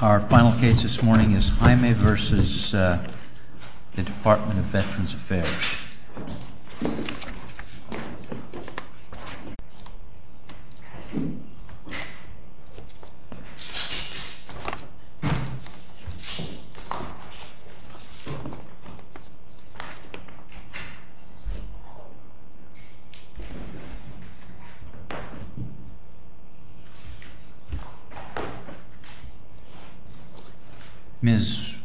Our final case this morning is Jaime v. Department of Veterans Affairs. Ms.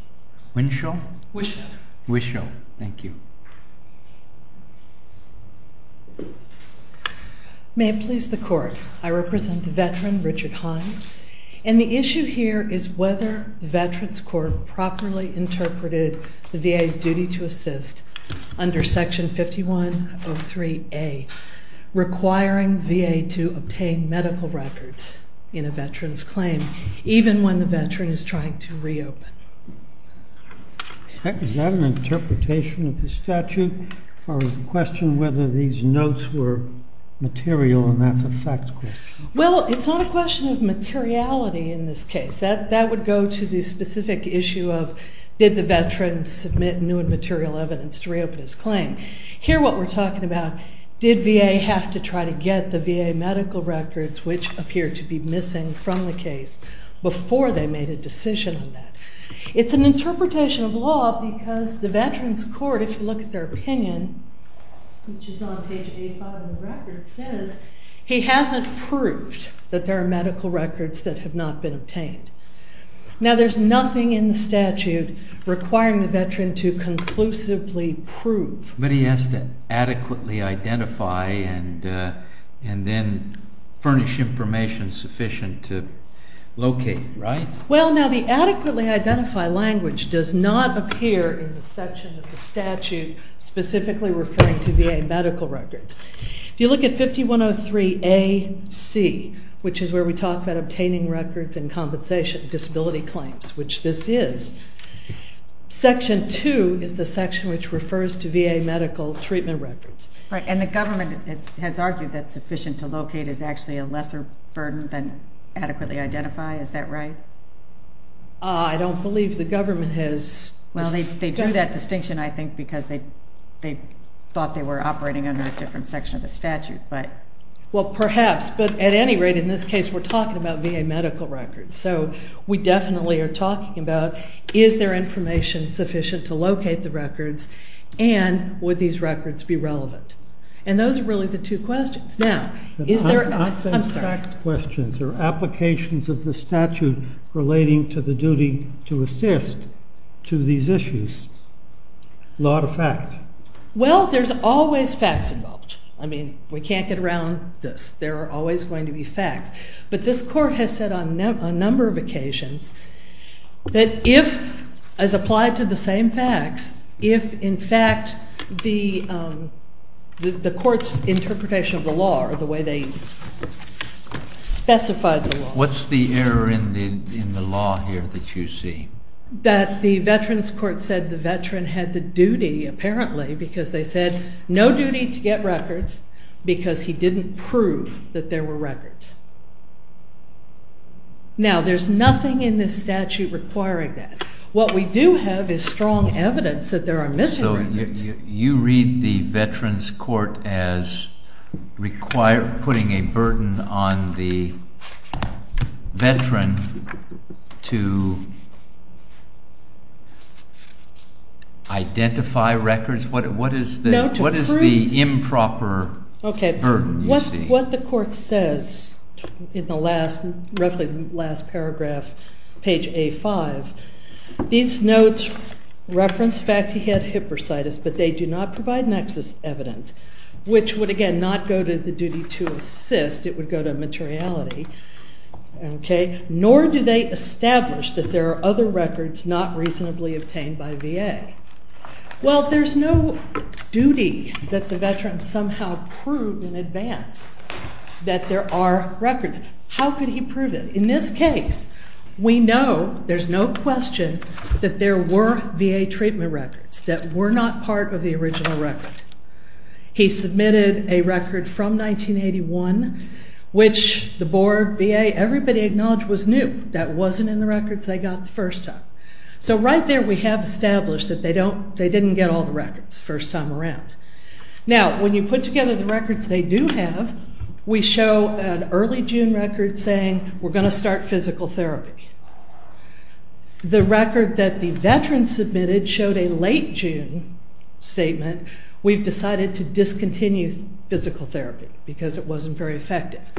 Winshaw? Winshaw. Winshaw, thank you. May it please the Court, I represent the veteran Richard Hahn and the issue here is whether the Veterans Court properly interpreted the VA's duty to assist under Section 5103A requiring VA to obtain medical records in a veteran's claim even when the veteran is trying to reopen. Is that an interpretation of the statute or is the question whether these notes were material and that's a fact question? Well, it's not a question of materiality in this case. That would go to the specific issue of did the veteran submit new and material evidence to try to get the VA medical records which appear to be missing from the case before they made a decision on that. It's an interpretation of law because the Veterans Court, if you look at their opinion, which is on page 85 of the record, says he hasn't proved that there are medical records that have not been obtained. Now, there's nothing in the statute requiring the veteran to conclusively prove. But he has to adequately identify and identify and then furnish information sufficient to locate, right? Well, now the adequately identify language does not appear in the section of the statute specifically referring to VA medical records. If you look at 5103AC, which is where we talk about obtaining records and compensation disability claims, which this is, Section 2 is the section which refers to VA medical treatment records. Right, and the government has argued that sufficient to locate is actually a lesser burden than adequately identify, is that right? I don't believe the government has... Well, they drew that distinction, I think, because they thought they were operating under a different section of the statute, but... Well, perhaps, but at any rate, in this case, we're talking about VA medical records. So, we definitely are looking to locate the records, and would these records be relevant? And those are really the two questions. Now, is there... Not the fact questions, there are applications of the statute relating to the duty to assist to these issues, not a fact. Well, there's always facts involved. I mean, we can't get around this. There are always going to be facts. But this court has said on a number of occasions that if, as applied to the same facts, if, in fact, the court's interpretation of the law or the way they specified the law... What's the error in the law here that you see? That the Veterans Court said the veteran had the duty, apparently, because they said, no duty to get records, because he didn't prove that there were records. Now, there's nothing in this statute requiring that. What we do have is strong evidence that there are mis-arrangements. So, you read the Veterans Court as requiring, putting a burden on the veteran to identify records? What is the improper burden? Okay. What the court says in the last, roughly the last paragraph, page A5, these notes reference the fact that he had hypersitis, but they do not provide nexus evidence, which would, again, not go to the duty to assist. It would go to materiality. Okay. Nor do they establish that there are other records not reasonably obtained by VA. Well, there's no duty that the veteran somehow prove in advance that there are records. How could he prove that? In this case, we know, there's no question, that there were VA treatment records that were not part of the original record. He submitted a record from 1981, which the board, VA, everybody acknowledged was new. That wasn't in the records they got the first time. So, right there, we have established that they didn't get all the records first time around. Now, when you put together the records they do have, we show an early June record saying, we're going to start physical therapy. The record that the veteran submitted showed a late June statement, we've decided to discontinue physical therapy because it wasn't very effective.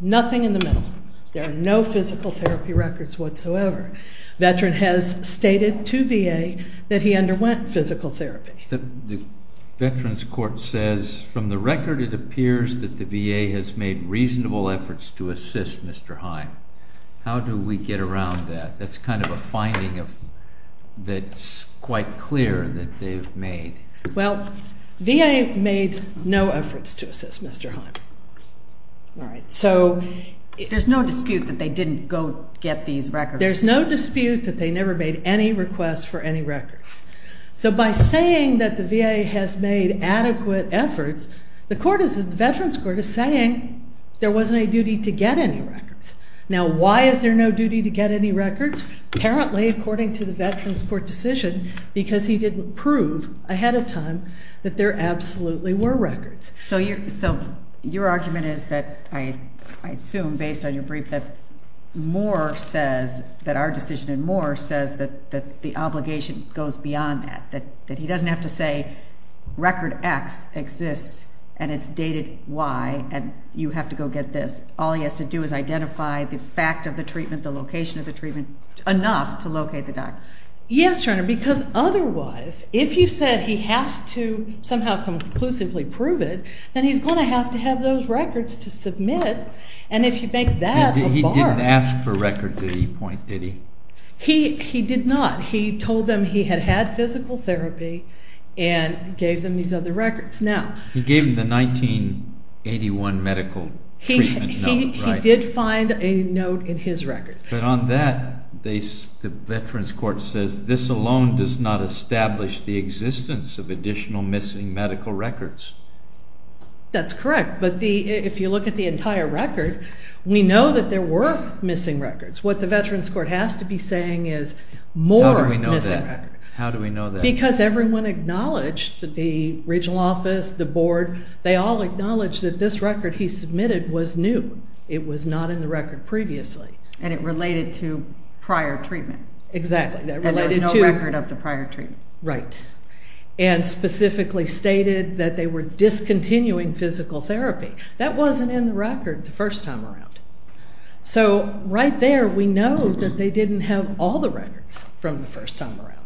Nothing in the middle. There are no physical therapy records whatsoever. Veteran has stated to the board, from the record it appears that the VA has made reasonable efforts to assist Mr. Heim. How do we get around that? That's kind of a finding that's quite clear that they've made. Well, VA made no efforts to assist Mr. Heim. All right. So, there's no dispute that they didn't go get these records. There's no dispute that they never made any requests for any records. So, by saying that the VA has made adequate efforts, the Veterans Court is saying there wasn't a duty to get any records. Now, why is there no duty to get any records? Apparently, according to the Veterans Court decision, because he didn't prove ahead of time that there absolutely were records. So, your argument is that, I assume based on your brief, that Moore says, that our decision in Moore says that the obligation goes beyond that. That he doesn't have to say record X exists and it's dated Y and you have to go get this. All he has to do is identify the fact of the treatment, the location of the treatment, enough to locate the doctor. Yes, Your Honor, because otherwise, if you said he has to somehow conclusively prove it, then he's going to have to have those records to submit. And if you make that a He did not. He told them he had had physical therapy and gave them these other records. He gave them the 1981 medical treatment note, right? He did find a note in his records. But on that, the Veterans Court says, this alone does not establish the existence of additional missing medical records. That's correct, but if you look at the entire record, we know that there were missing records. What the Veterans Court has to be saying is more missing records. How do we know that? Because everyone acknowledged, the regional office, the board, they all acknowledged that this record he submitted was new. It was not in the record previously. And it related to prior treatment. Exactly. And there was no record of the prior treatment. Right. And specifically stated that they were discontinuing physical therapy. That wasn't in the record the first time around. So right there, we know that they didn't have all the records from the first time around.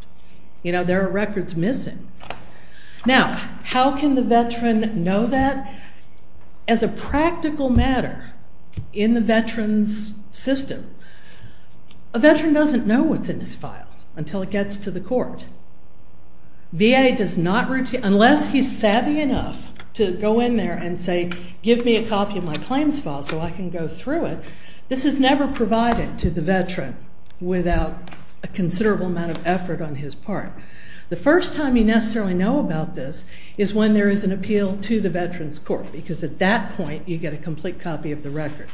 You know, there are records missing. Now, how can the veteran know that? As a practical matter, in the veteran's system, a veteran doesn't know what's in his file until it gets to the court. VA does not routinely, unless he's savvy enough to go in there and say, give me a copy of my claims file so I can go through it. This is never provided to the veteran without a considerable amount of effort on his part. The first time you necessarily know about this is when there is an appeal to the Veterans Court because at that point, you get a complete copy of the record.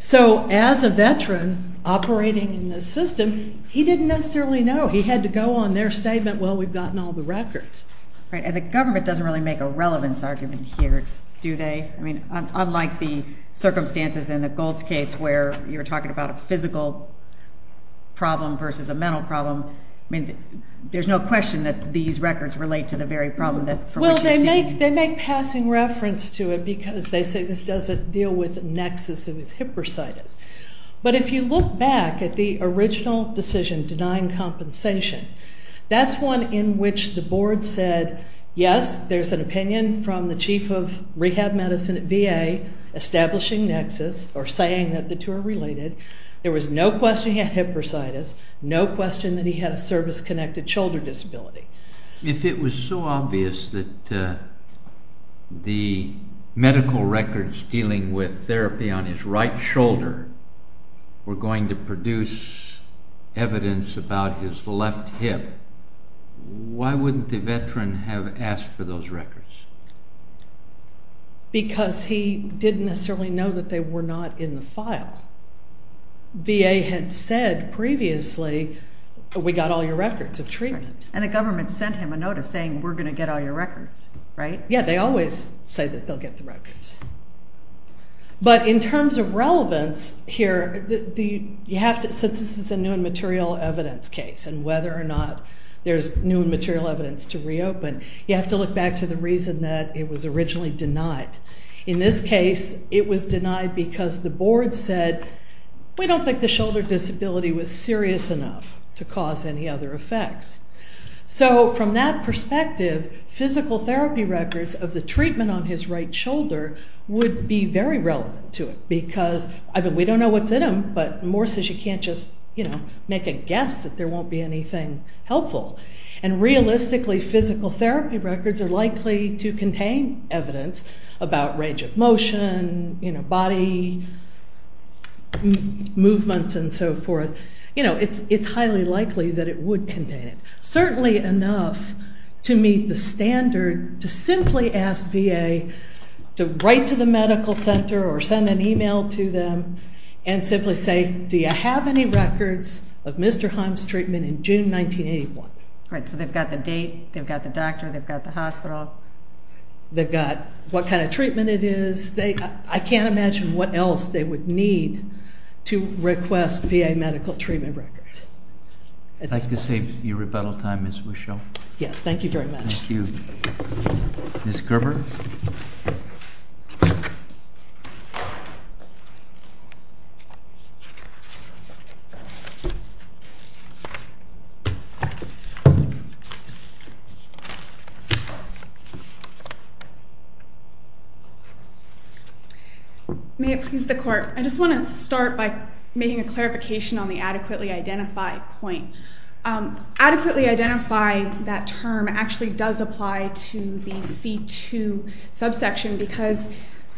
So as a veteran operating in the system, he didn't necessarily know. He had to go on their statement, well, we've gotten all the records. Right. And the government doesn't really make a relevance argument here, do they? I mean, unlike the circumstances in the Gold's case where you're talking about a physical problem versus a mental problem. I mean, there's no question that these records relate to the very problem from which you're speaking. Well, they make passing reference to it because they say this doesn't deal with nexus, it's hypersitus. But if you look back at the original decision denying compensation, that's one in which the board said, yes, there's an opinion from the Chief of Rehab Medicine at VA establishing nexus or saying that the two are related. There was no question he had hypersitus, no question that he had a service-connected shoulder disability. If it was so obvious that the medical records dealing with therapy on his right shoulder were going to produce evidence about his left hip, why wouldn't the veteran have asked for those records? Because he didn't necessarily know that they were not in the file. VA had said previously, we got all your records of treatment. And the government sent him a notice saying, we're going to get all your records, right? Yeah, they always say that they'll get the records. But in terms of relevance here, since this is a new and material evidence case and whether or not there's new and material evidence to reopen, you have to look back to the reason that it was originally denied. In this case, it was denied because the board said, we don't think the shoulder disability was serious enough to cause any other effects. So from that perspective, physical therapy records of the treatment on his right shoulder would be very relevant to it because we don't know what's in them, but Moore says you can't just make a guess that there won't be anything helpful. And realistically, physical therapy records are likely to contain evidence about range of motion, body movements, and so forth. It's highly likely that it would contain it. Certainly enough to meet the standard to simply ask VA to write to the medical center or send an email to them and simply say, do you have any records of Mr. Heim's treatment in June 1981? Right, so they've got the date, they've got the doctor, they've got the hospital. They've got what kind of treatment it is. I can't imagine what else they would need to request VA medical treatment records. I'd like to save you rebuttal time, Ms. Wischel. Yes, thank you very much. Thank you. Ms. Gerber? May it please the Court. I just want to start by making a clarification on the adequately identified point. Adequately identifying that term actually does apply to the C2 subsection because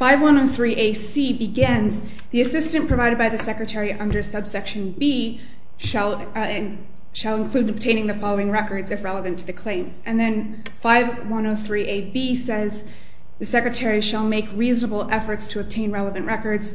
5103AC begins, the assistant provided by the secretary under subsection B shall include obtaining the following records if relevant to the claim. And then 5103AB says the secretary shall make reasonable efforts to obtain relevant records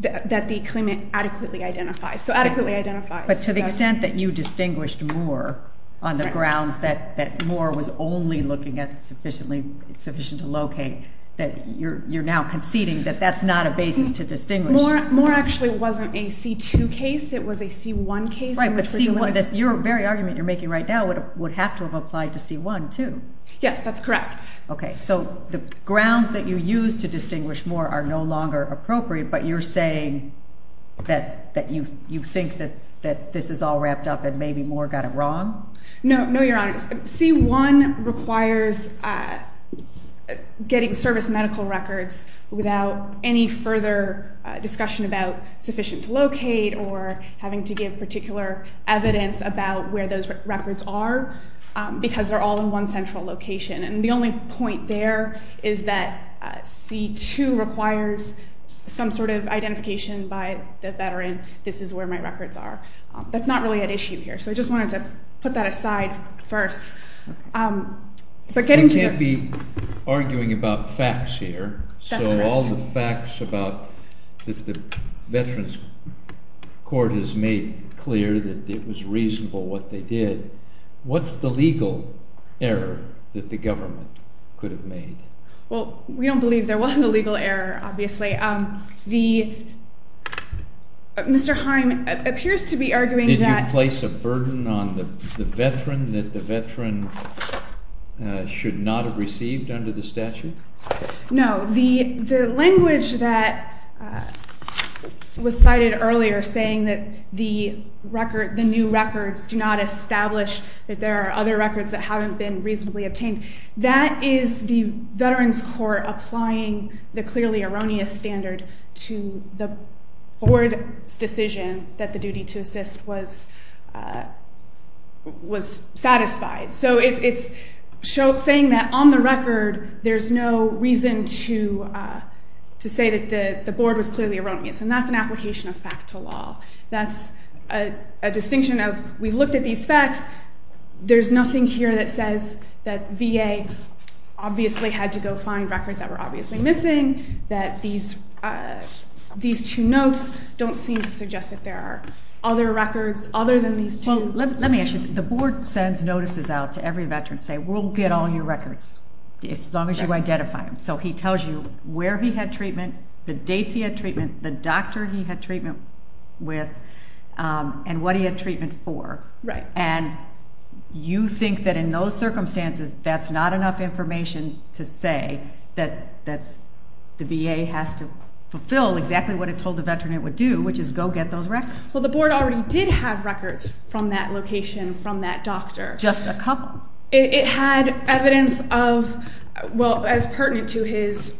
that the claimant adequately identifies. So adequately identifies. But to the extent that you distinguished Moore on the grounds that Moore was only looking at sufficiently to locate that you're now conceding that that's not a basis to distinguish. Moore actually wasn't a C2 case, it was a C1 case. That's right, but your very argument you're making right now would have to have applied to C1, too. Yes, that's correct. Okay, so the grounds that you used to distinguish Moore are no longer appropriate, but you're saying that you think that this is all wrapped up and maybe Moore got it wrong? No, Your Honor. C1 requires getting service medical records without any further discussion about sufficient to locate or having to give particular evidence about where those records are because they're all in one central location. And the only point there is that C2 requires some sort of identification by the veteran, this is where my records are. That's not really at issue here. So I just wanted to put that aside first. We can't be arguing about facts here. That's correct. With all the facts that the Veterans Court has made clear that it was reasonable what they did, what's the legal error that the government could have made? Well, we don't believe there was a legal error, obviously. Mr. Heim appears to be arguing that... Did you place a burden on the veteran that the veteran should not have received under the statute? No. The language that was cited earlier saying that the new records do not establish that there are other records that haven't been reasonably obtained, that is the Veterans Court applying the clearly erroneous standard to the Board's decision that the duty to assist was satisfied. So it's saying that on the record, there's no reason to say that the Board was clearly erroneous and that's an application of fact to law. That's a distinction of we've looked at these facts, there's nothing here that says that VA obviously had to go find records that were obviously missing, that these two notes don't seem to suggest that there are other records other than these two. Well, let me ask you, the Board sends notices out to every veteran saying we'll get all your records as long as you identify them. So he tells you where he had treatment, the dates he had treatment, the doctor he had treatment with, and what he had treatment for. Right. And you think that in those circumstances, that's not enough information to say that the VA has to fulfill exactly what it told the veteran it would do, which is go get those records. So the Board already did have records from that location, from that doctor. Just a couple. It had evidence of, well, as pertinent to his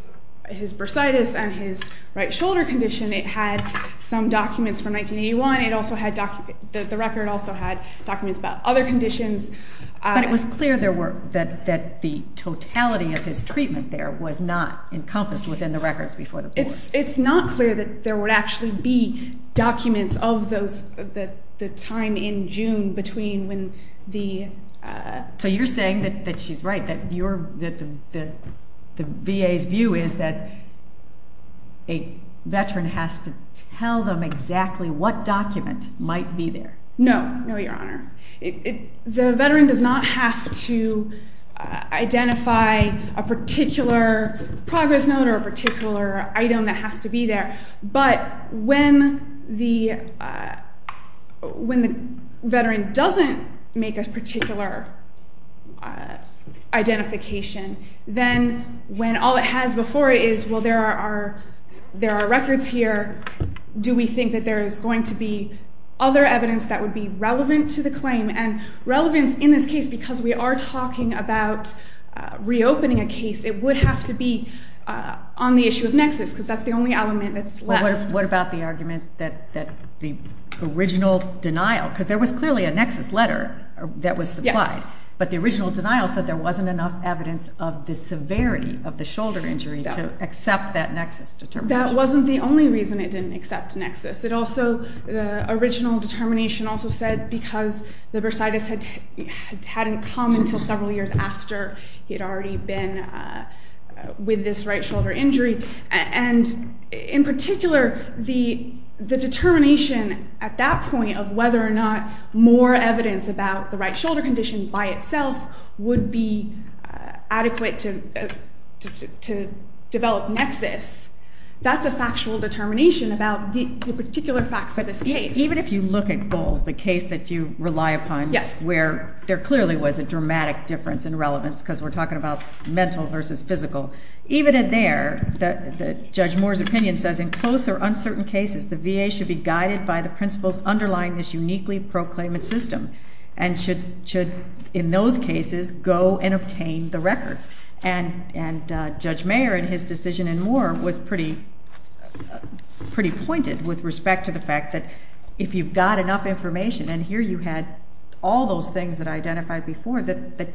bursitis and his right shoulder condition, it had some documents from 1981. It also had documents, the record also had documents about other conditions. But it was clear there were, that the totality of his treatment there was not encompassed within the records before the Board. It's not clear that there would actually be documents of the time in June between when the... So you're saying that she's right, that the VA's view is that a veteran has to tell them exactly what document might be there. No. No, Your Honor. The veteran does not have to identify a particular progress note or a particular item that has to be there. But when the veteran doesn't make a particular identification, then when all it has before it is, well, there are records here, do we think that there is going to be other evidence that would be relevant to the claim? And relevance in this case, because we are talking about reopening a case, it would have to be on the issue of nexus, because that's the only element that's left. Well, what about the argument that the original denial, because there was clearly a nexus letter that was supplied. Yes. But the original denial said there wasn't enough evidence of the severity of the shoulder injury to accept that nexus determination. That wasn't the only reason it didn't accept nexus. It also, the original determination also said because the bursitis hadn't come until several years after he had already been with this right shoulder injury. And in particular, the determination at that point of whether or not more evidence about the right shoulder condition by itself would be adequate to develop nexus, that's a factual determination about the particular facts of this case. But even if you look at Bowles, the case that you rely upon, where there clearly was a dramatic difference in relevance, because we're talking about mental versus physical, even in there, Judge Moore's opinion says, in close or uncertain cases, the VA should be guided by the principles underlying this uniquely proclaimed system, and should, in those cases, go and obtain the records. And Judge Mayer in his decision in Moore was pretty pointed with respect to the fact that if you've got enough information, and here you had all those things that I identified before, that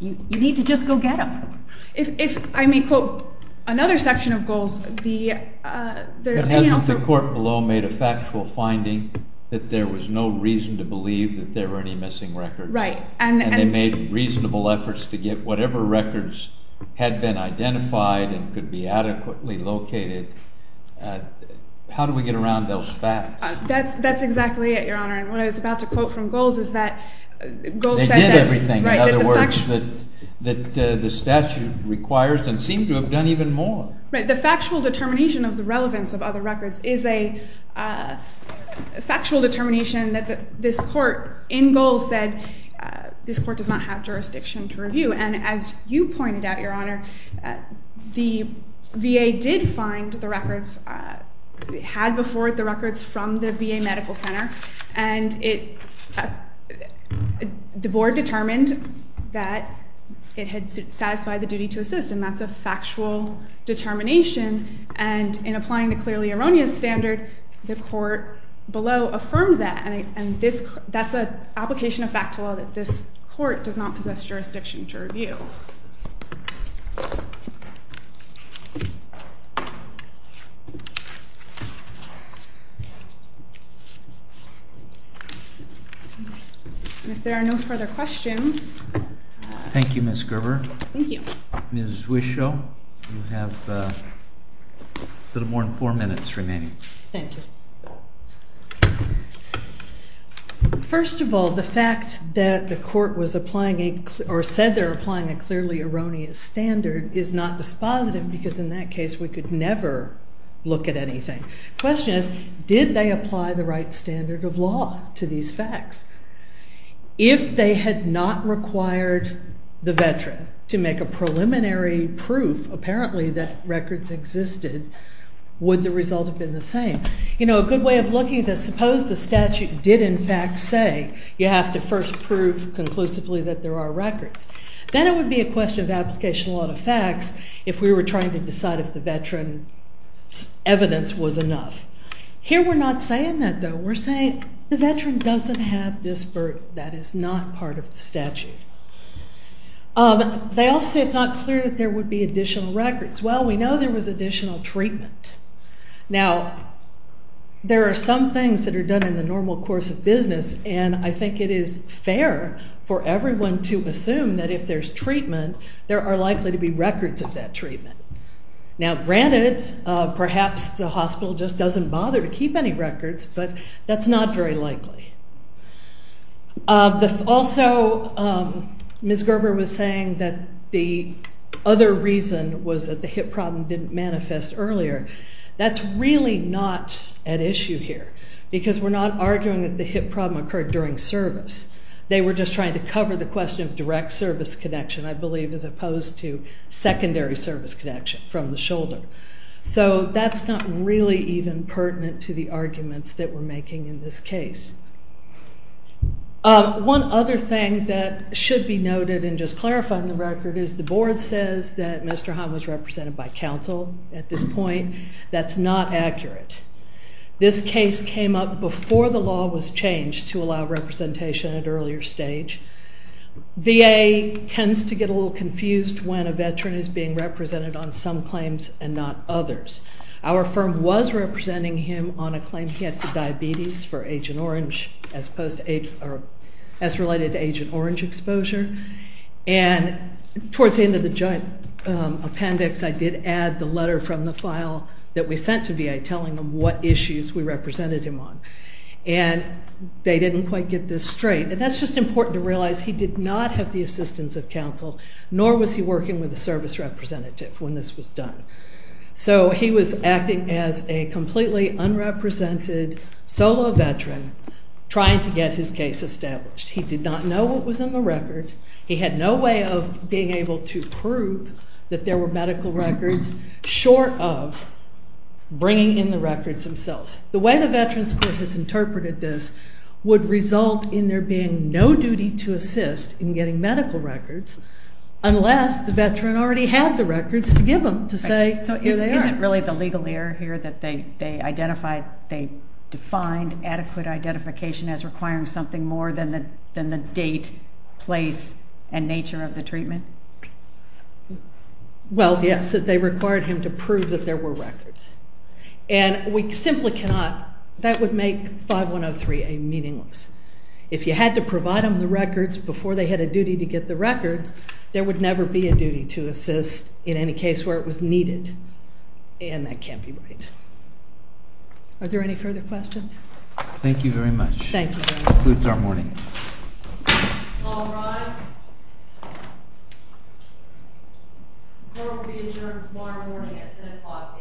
you need to just go get them. If I may quote another section of Bowles, the opinion also... But hasn't the court below made a factual finding that there was no reason to believe that there were any missing records? Right. And they made reasonable efforts to get whatever records had been identified and could be adequately located. How do we get around those facts? That's exactly it, Your Honor. And what I was about to quote from Bowles is that... They did everything, in other words, that the statute requires and seemed to have done even more. The factual determination of the relevance of other records is a factual determination that this court in Bowles said this court does not have jurisdiction to review. And as you pointed out, Your Honor, the VA did find the records, had before it the records from the VA Medical Center, and the board determined that it had satisfied the duty to assist, and that's a factual determination. And in applying the clearly erroneous standard, the court below affirmed that. And that's an application of fact to law that this court does not possess jurisdiction to review. Thank you. If there are no further questions... Thank you, Ms. Gerber. Thank you. Ms. Wischow, you have a little more than 4 minutes remaining. Thank you. First of all, the fact that the court was applying a... or said they're applying a clearly erroneous standard is not dispositive, because in that case we could never look at anything. The question is, did they apply the right standard of law to these facts? If they had not required the veteran to make a preliminary proof apparently that records existed, would the result have been the same? You know, a good way of looking at this, suppose the statute did in fact say you have to first prove conclusively that there are records. Then it would be a question of application of law to facts if we were trying to decide if the veteran's evidence was enough. Here we're not saying that, though. We're saying the veteran doesn't have this burden that is not part of the statute. They also say it's not clear that there would be additional records. Well, we know there was additional treatment. Now, there are some things that are done in the normal course of business, and I think it is fair for everyone to assume that if there's treatment, there are likely to be records of that treatment. Now, granted, perhaps the hospital just doesn't bother to keep any records, but that's not very likely. Also, Ms. Gerber was saying that the other reason was that the hip problem didn't manifest earlier. That's really not at issue here, because we're not arguing that the hip problem occurred during service. They were just trying to cover the question of direct service connection, I believe, as opposed to secondary service connection from the shoulder. So that's not really even pertinent to the arguments that we're making in this case. One other thing that should be noted in just clarifying the record is the board says that Mr. Hahn was represented by counsel at this point. That's not accurate. This case came up before the law was changed to allow representation at an earlier stage. VA tends to get a little confused when a veteran is being represented on some claims and not others. Our firm was representing him on a claim he had for diabetes for Agent Orange, as related to Agent Orange exposure. And towards the end of the joint appendix, I did add the letter from the file that we sent to VA telling them what issues we represented him on. And they didn't quite get this straight. And that's just important to realize he did not have the assistance of counsel, nor was he working with a service representative when this was done. So he was acting as a completely unrepresented solo veteran trying to get his case established. He did not know what was in the record. He had no way of being able to prove that there were medical records short of bringing in the records themselves. The way the Veterans Court has interpreted this would result in there being no duty to assist in getting medical records unless the veteran already had the records to give them, to say, here they are. So is it really the legal error here that they identified, they defined adequate identification as requiring something more than the date, place, and nature of the treatment? Well, yes, that they required him to prove that there were records. And we simply cannot that would make 5103A meaningless. If you had to provide them the records before they had a duty to get the records there would never be a duty to assist in any case where it was needed. And that can't be right. Are there any further questions? Thank you very much. That concludes our morning. All rise. Court will be adjourned tomorrow morning at 2 o'clock.